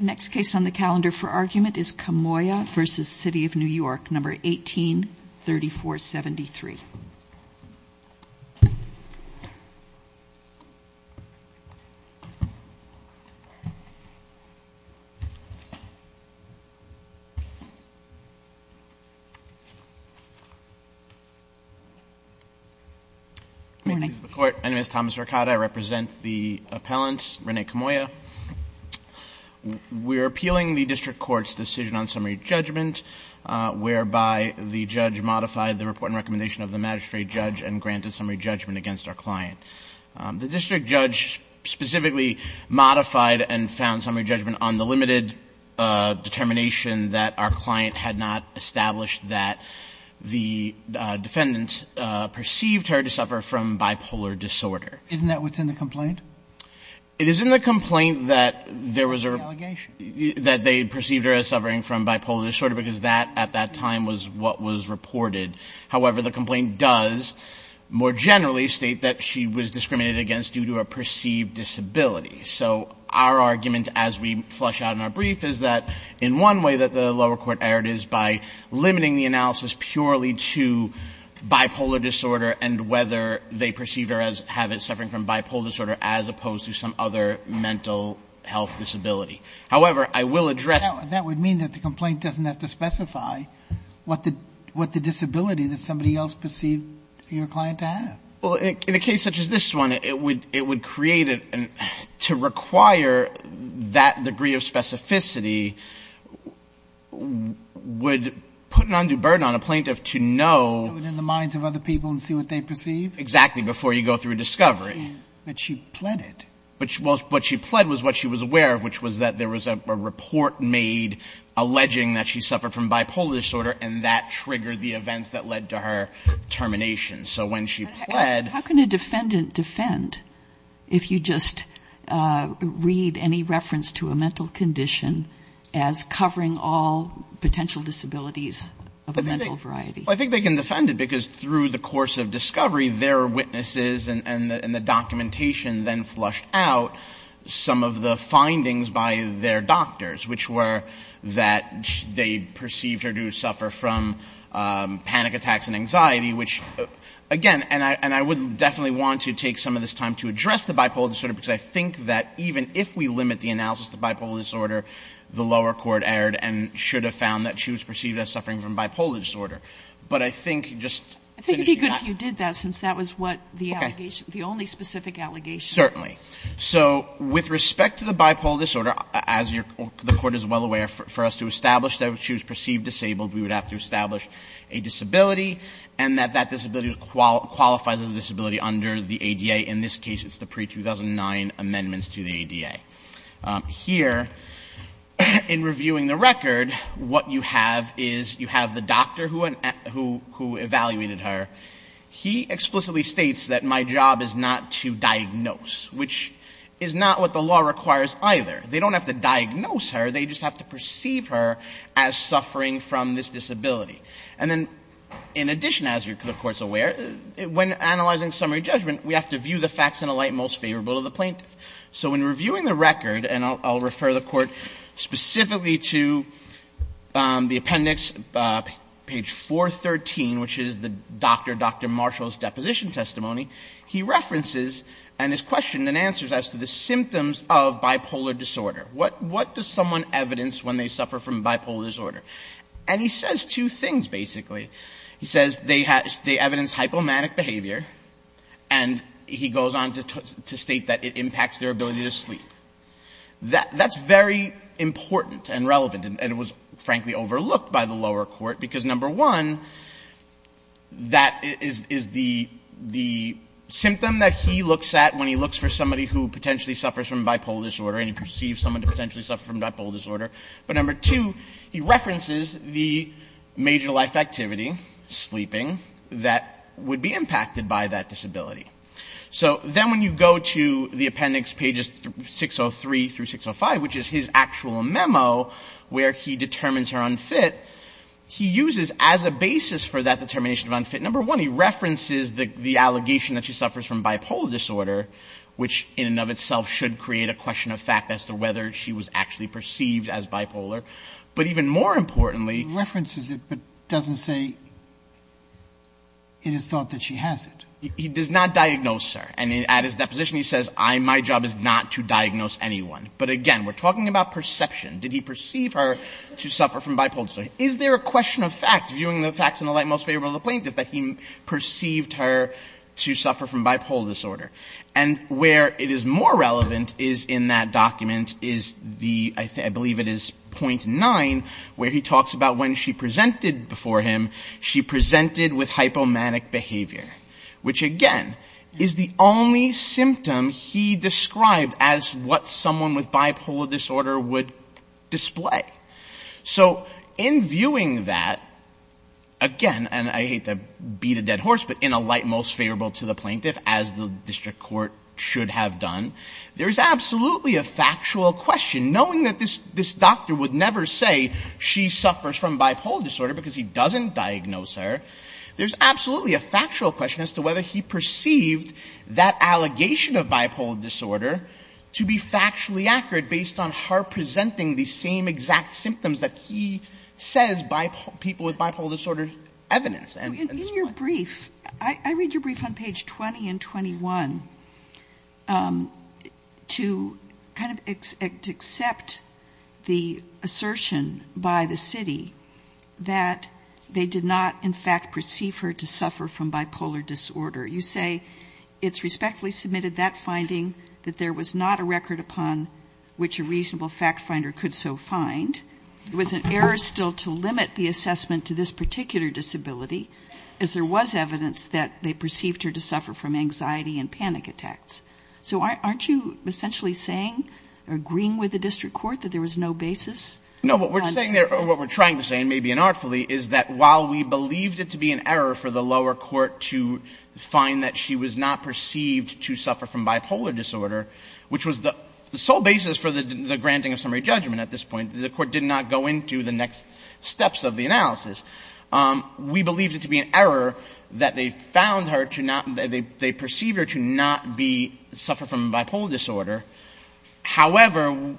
1834.73. Morning. Good morning. My name is Thomas Ricotta. I represent the appellant, Rene Camoya. We're appealing the district court's decision on summary judgment, whereby the judge modified the report and recommendation of the magistrate judge and granted summary judgment against our client. The district judge specifically modified and found summary judgment on the limited determination that our client had not established that the defendant perceived her to suffer from bipolar disorder. Isn't that what's in the complaint? It is in the complaint that there was a... It's in the allegation. ...that they perceived her as suffering from bipolar disorder because that, at that time, was what was reported. However, the complaint does more generally state that she was discriminated against due to a perceived disability. So our argument, as we flush out in our brief, is that in one way that the lower court erred is by limiting the analysis purely to bipolar disorder and whether they perceived her as having suffering from bipolar disorder as opposed to some other mental health disability. However, I will address... Now, that would mean that the complaint doesn't have to specify what the disability that somebody else perceived your client to have. Well, in a case such as this one, it would create a... to require that degree of specificity would put an undue burden on a plaintiff to know... Know it in the minds of other people and see what they perceive. Exactly, before you go through a discovery. But she pled it. What she pled was what she was aware of, which was that there was a report made alleging that she suffered from bipolar disorder, and that triggered the events that led to her termination. So when she pled... How can a defendant defend if you just read any reference to a mental condition as covering all potential disabilities of a mental variety? Well, I think they can defend it because through the course of discovery, their witnesses and the documentation then flushed out some of the findings by their doctors, which were that they perceived her to suffer from panic attacks and anxiety, which, again, and I would definitely want to take some of this time to address the bipolar disorder because I think that even if we limit the analysis to bipolar disorder, the lower court erred and should have found that she was perceived as suffering from bipolar disorder. But I think just finishing that... I think it would be good if you did that since that was what the allegation... Okay. ...the only specific allegation was. Certainly. So with respect to the bipolar disorder, as the Court is well aware, for us to establish that she was perceived disabled, we would have to establish a disability and that that disability qualifies as a disability under the ADA. In this case, it's the pre-2009 amendments to the ADA. Here, in reviewing the record, what you have is you have the doctor who evaluated her. He explicitly states that my job is not to diagnose, which is not what the law requires either. They don't have to diagnose her. They just have to perceive her as suffering from this disability. And then, in addition, as the Court is aware, when analyzing summary judgment, we have to view the facts in a light most favorable to the plaintiff. So in reviewing the record, and I'll refer the Court specifically to the appendix, page 413, which is the Dr. Dr. Marshall's deposition testimony, he references and is questioned and answers as to the symptoms of bipolar disorder. What does someone evidence when they suffer from bipolar disorder? And he says two things, basically. He says they evidence hypomanic behavior, and he goes on to state that it impacts their ability to sleep. That's very important and relevant, and it was, frankly, overlooked by the lower court because, number one, that is the symptom that he looks at when he looks for somebody who potentially suffers from bipolar disorder and he perceives someone to potentially suffer from bipolar disorder. But, number two, he references the major life activity, sleeping, that would be impacted by that disability. So then when you go to the appendix, pages 603 through 605, which is his actual memo where he determines her unfit, he uses as a basis for that determination of unfit, number one, he references the allegation that she suffers from bipolar disorder, which in and of itself should create a question of fact as to whether she was actually perceived as bipolar. But even more importantly he references it, but doesn't say it is thought that she has it. He does not diagnose her. And at his deposition he says, my job is not to diagnose anyone. But, again, we're talking about perception. Did he perceive her to suffer from bipolar disorder? Is there a question of fact, viewing the facts in the light most favorable to the plaintiff, that he perceived her to suffer from bipolar disorder? And where it is more relevant is in that document, I believe it is point nine, where he talks about when she presented before him, she presented with hypomanic behavior. Which, again, is the only symptom he described as what someone with bipolar disorder would display. So in viewing that, again, and I hate to beat a dead horse, but in a light most favorable to the plaintiff, as the district court should have done, there is absolutely a factual question. Knowing that this doctor would never say she suffers from bipolar disorder because he doesn't diagnose her, there's absolutely a factual question as to whether he perceived that allegation of bipolar disorder to be factually accurate based on her presenting the same exact symptoms that he says people with bipolar disorder evidence. In your brief, I read your brief on page 20 and 21 to kind of accept the assertion by the city that they did not, in fact, perceive her to suffer from bipolar disorder. You say it's respectfully submitted that finding that there was not a record upon which a reasonable fact finder could so find. There was an error still to limit the assessment to this particular disability, as there was evidence that they perceived her to suffer from anxiety and panic attacks. So aren't you essentially saying, agreeing with the district court, that there was no basis? No. What we're saying there, or what we're trying to say, and maybe inartfully, is that while we believed it to be an error for the lower court to find that she was not perceived to suffer from bipolar disorder, which was the sole basis for the granting of summary judgment at this point, the court did not go into the next steps of the analysis. We believed it to be an error that they found her to not — they perceived her to not be — suffer from bipolar disorder. However,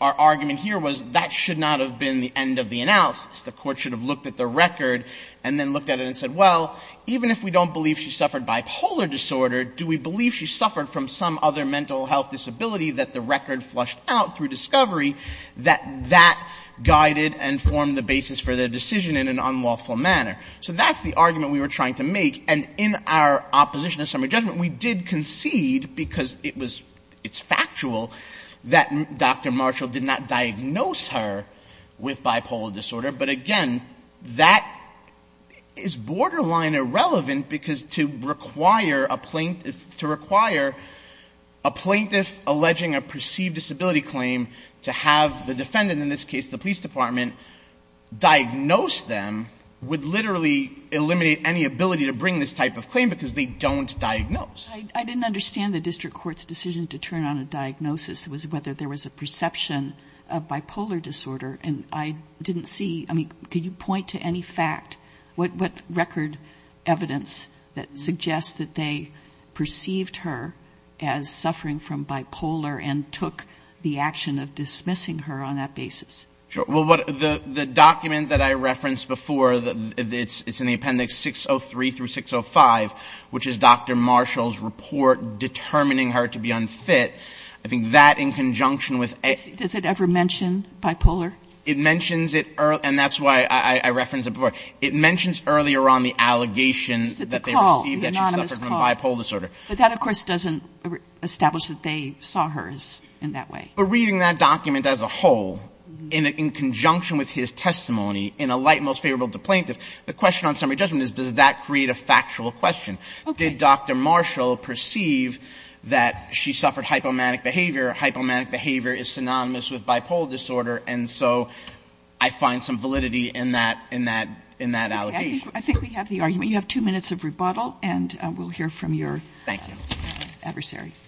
our argument here was that should not have been the end of the analysis. The court should have looked at the record and then looked at it and said, well, even if we don't believe she suffered bipolar disorder, do we believe she suffered from some other mental health disability that the record flushed out through discovery that that guided and formed the basis for the decision in an unlawful manner? So that's the argument we were trying to make. And in our opposition to summary judgment, we did concede, because it was — it's factual, that Dr. Marshall did not diagnose her with bipolar disorder. But again, that is borderline irrelevant because to require a plaintiff — to require a plaintiff alleging a perceived disability claim to have the defendant, in this case the police department, diagnose them would literally eliminate any ability to bring this type of claim because they don't diagnose. I didn't understand the district court's decision to turn on a diagnosis. It was whether there was a perception of bipolar disorder. And I didn't see — I mean, could you point to any fact, what record evidence that suggests that they perceived her as suffering from bipolar and took the action of dismissing her on that basis? Sure. Well, the document that I referenced before, it's in the appendix 603 through 605, which is Dr. Marshall's report determining her to be unfit. I think that in conjunction with — Does it ever mention bipolar? It mentions it — and that's why I referenced it before. It mentions earlier on the allegations that they received that she suffered from bipolar disorder. But that, of course, doesn't establish that they saw hers in that way. But reading that document as a whole, in conjunction with his testimony, in a light The question on summary judgment is, does that create a factual question? Okay. Did Dr. Marshall perceive that she suffered hypomanic behavior? Hypomanic behavior is synonymous with bipolar disorder. And so I find some validity in that — in that — in that allegation. Okay. I think we have the argument. You have two minutes of rebuttal, and we'll hear from your adversary. Thank you.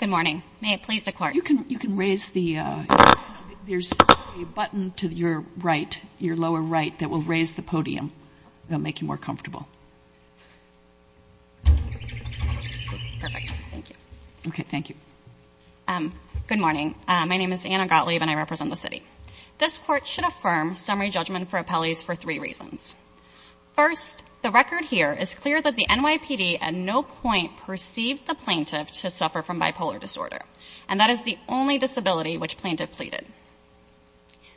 Good morning. May it please the Court. You can — you can raise the — there's a button to your right, your lower right, that will raise the podium. That will make you more comfortable. Perfect. Thank you. Okay. Thank you. Good morning. My name is Anna Gottlieb, and I represent the city. This Court should affirm summary judgment for appellees for three reasons. First, the record here is clear that the NYPD at no point perceived the plaintiff to suffer from bipolar disorder. And that is the only disability which plaintiff pleaded.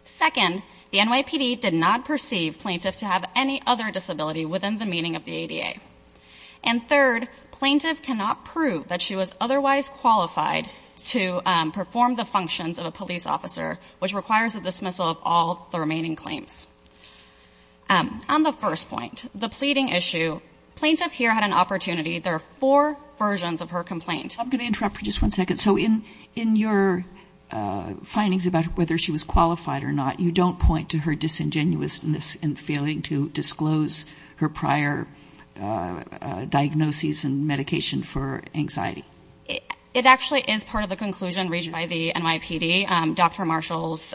Second, the NYPD did not perceive plaintiff to have any other disability within the meaning of the ADA. And third, plaintiff cannot prove that she was otherwise qualified to perform the functions of a police officer, which requires the dismissal of all the remaining claims. On the first point, the pleading issue, plaintiff here had an opportunity. There are four versions of her complaint. I'm going to interrupt for just one second. So in your findings about whether she was qualified or not, you don't point to her disingenuousness in failing to disclose her prior diagnoses and medication for anxiety. It actually is part of the conclusion reached by the NYPD. Dr. Marshall's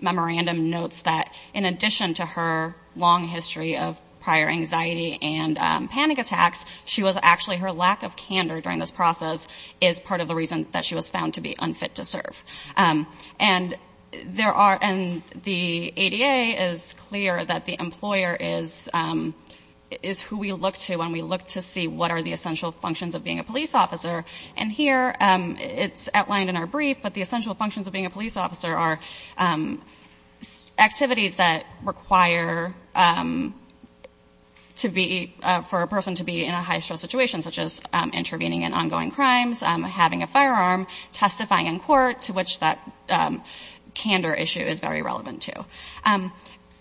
memorandum notes that in addition to her long history of prior anxiety and panic attacks, she was actually her lack of candor during this process is part of the reason that she was found to be unfit to serve. And the ADA is clear that the employer is who we look to when we look to see what are the essential functions of being a police officer. And here it's outlined in our brief. But the essential functions of being a police officer are activities that require to be for a person to be in a high stress situation, such as intervening in ongoing crimes, having a firearm, testifying in court to which that candor issue is very relevant to.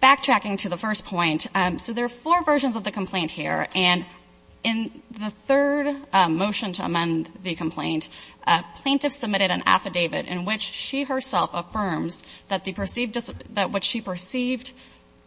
Backtracking to the first point. So there are four versions of the complaint here. And in the third motion to amend the complaint, plaintiff submitted an affidavit in which she herself affirms that the perceived that what she perceived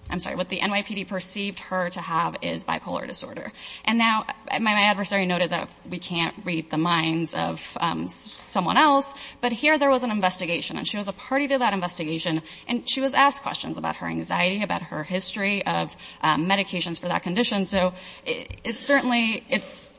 I'm sorry, what the NYPD perceived her to have is bipolar disorder. And now my adversary noted that we can't read the minds of someone else. But here there was an investigation and she was a party to that investigation. And she was asked questions about her anxiety, about her history of medications for that condition. So it's certainly it's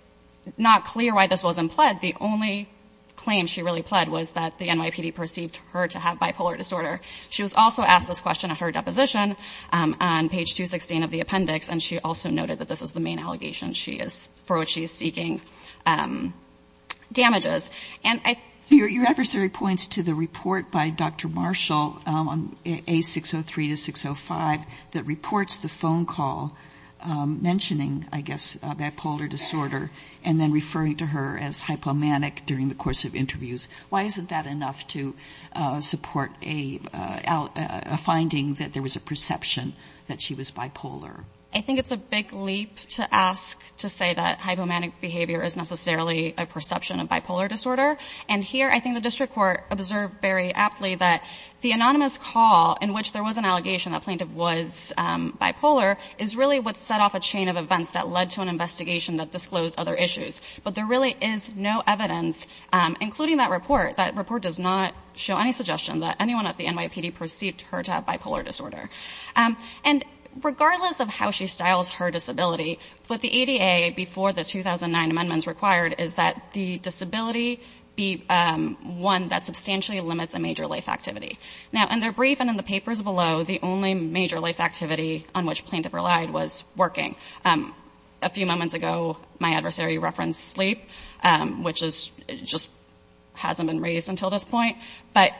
not clear why this wasn't pled. The only claim she really pled was that the NYPD perceived her to have bipolar disorder. She was also asked this question at her deposition on page 216 of the appendix. And she also noted that this is the main allegation she is for what she is seeking damages. Your adversary points to the report by Dr. Marshall on A603 to 605 that reports the phone call mentioning I guess bipolar disorder and then referring to her as hypomanic during the course of interviews. Why isn't that enough to support a finding that there was a perception that she was bipolar? I think it's a big leap to ask to say that hypomanic behavior is necessarily a perception of bipolar disorder. And here I think the district court observed very aptly that the anonymous call in which there was an allegation that plaintiff was bipolar is really what set off a chain of events that led to an investigation that disclosed other issues. But there really is no evidence, including that report. That report does not show any suggestion that anyone at the NYPD perceived her to have bipolar disorder. And regardless of how she styles her disability, what the ADA before the 2009 amendments required is that the disability be one that substantially limits a major life activity. Now in their brief and in the papers below, the only major life activity on which plaintiff relied was working. A few moments ago my adversary referenced sleep, which just hasn't been raised until this point. But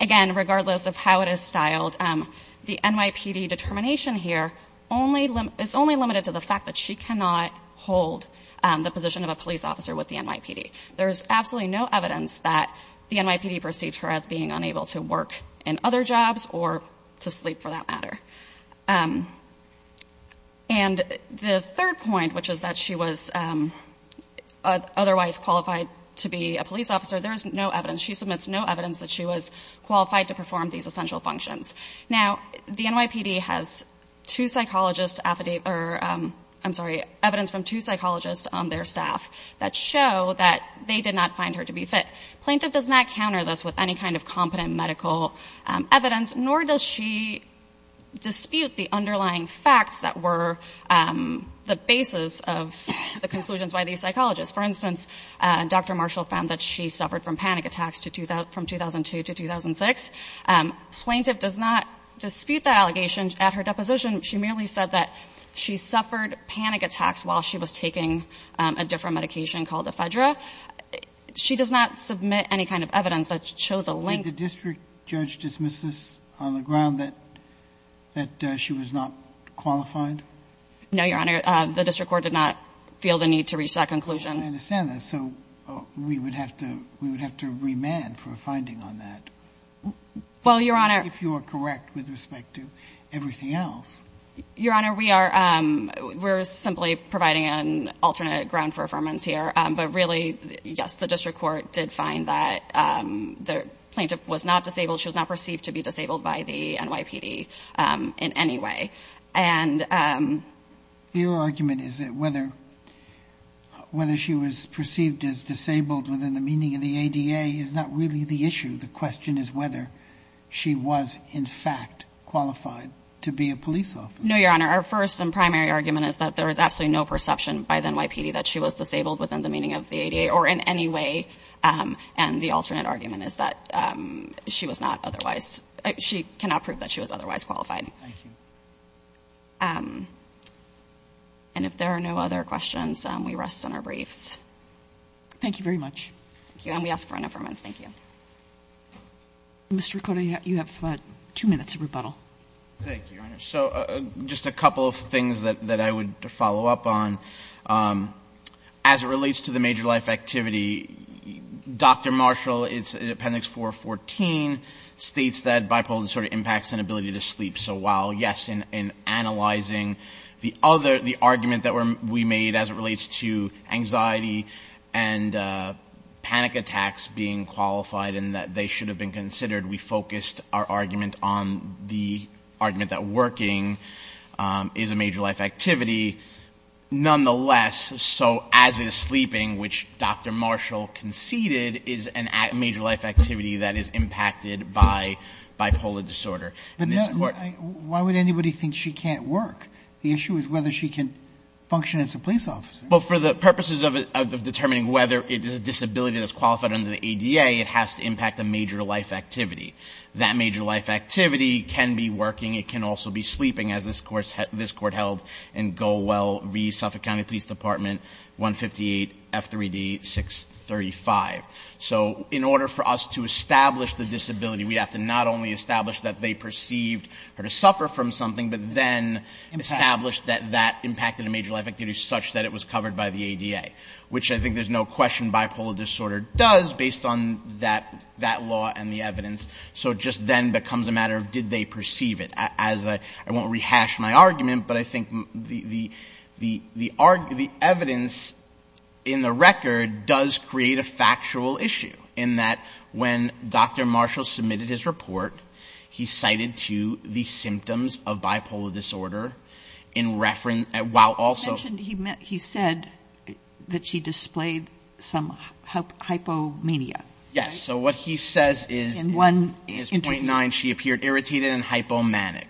again, regardless of how it is styled, the NYPD determination here is only limited to the fact that she cannot hold the position of a police officer with the NYPD. There is absolutely no evidence that the NYPD perceived her as being unable to work in other jobs, or to sleep for that matter. And the third point, which is that she was otherwise qualified to be a police officer, there is no evidence. She submits no evidence that she was qualified to perform these essential functions. Now the NYPD has evidence from two psychologists on their staff that show that they did not find her to be fit. Plaintiff does not counter this with any kind of competent medical evidence, nor does she dispute the underlying facts that were the basis of the conclusions by these psychologists. For instance, Dr. Marshall found that she suffered from panic attacks from 2002 to 2006. Plaintiff does not dispute that allegation. At her deposition, she merely said that she suffered panic attacks while she was taking a different medication called Ephedra. She does not submit any kind of evidence that shows a link. Did the district judge dismiss this on the ground that she was not qualified? No, Your Honor. The district court did not feel the need to reach that conclusion. I understand that. So we would have to remand for a finding on that. Well, Your Honor. If you are correct with respect to everything else. Your Honor, we are simply providing an alternate ground for affirmance here. But really, yes, the district court did find that the plaintiff was not disabled. She was not perceived to be disabled by the NYPD in any way. Your argument is that whether she was perceived as disabled within the meaning of the ADA is not really the issue. The question is whether she was in fact qualified to be a police officer. No, Your Honor. Our first and primary argument is that there is absolutely no perception by the NYPD that she was disabled within the meaning of the ADA or in any way. And the alternate argument is that she was not otherwise. She cannot prove that she was otherwise qualified. Thank you. And if there are no other questions, we rest on our briefs. Thank you very much. Thank you. And we ask for an affirmance. Thank you. Mr. Riccotti, you have two minutes of rebuttal. Thank you, Your Honor. So just a couple of things that I would follow up on. As it relates to the major life activity, Dr. Marshall, in Appendix 414, states that bipolar disorder impacts an ability to sleep. So while, yes, in analyzing the argument that we made as it relates to anxiety and panic attacks being qualified and that they should have been considered, we focused our argument on the argument that working is a major life activity. Nonetheless, so as is sleeping, which Dr. Marshall conceded, is a major life activity that is impacted by bipolar disorder. But why would anybody think she can't work? The issue is whether she can function as a police officer. Well, for the purposes of determining whether it is a disability that's qualified under the ADA, it has to impact a major life activity. That major life activity can be working, it can also be sleeping, as this Court held in Golwell v. Suffolk County Police Department 158 F3D 635. So in order for us to establish the disability, we have to not only establish that they perceived her to suffer from something, but then establish that that impacted a major life activity such that it was covered by the ADA, which I think there's no question bipolar disorder does based on that law and the evidence. So it just then becomes a matter of did they perceive it. I won't rehash my argument, but I think the evidence in the record does create a factual issue, in that when Dr. Marshall submitted his report, he cited to the symptoms of bipolar disorder in reference, while also... He mentioned, he said that she displayed some hypomania. Yes. So what he says is... In one interview. .9, she appeared irritated and hypomanic.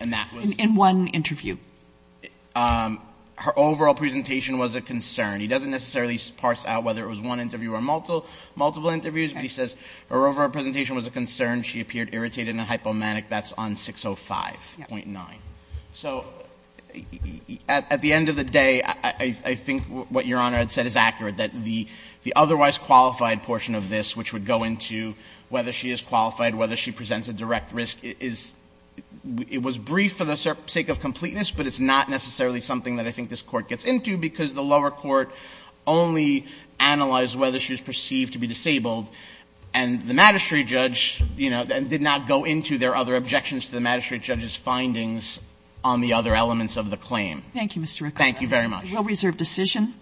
In one interview. Her overall presentation was a concern. He doesn't necessarily parse out whether it was one interview or multiple interviews, but he says her overall presentation was a concern. She appeared irritated and hypomanic. That's on 605.9. So at the end of the day, I think what Your Honor had said is accurate, that the otherwise qualified portion of this, which would go into whether she is qualified, whether she presents a direct risk, is — it was brief for the sake of completeness, but it's not necessarily something that I think this Court gets into, because the lower court only analyzed whether she was perceived to be disabled. And the magistrate judge, you know, did not go into their other objections to the magistrate judge's findings on the other elements of the claim. Thank you, Mr. Ricciardo. Thank you very much. A well-reserved decision.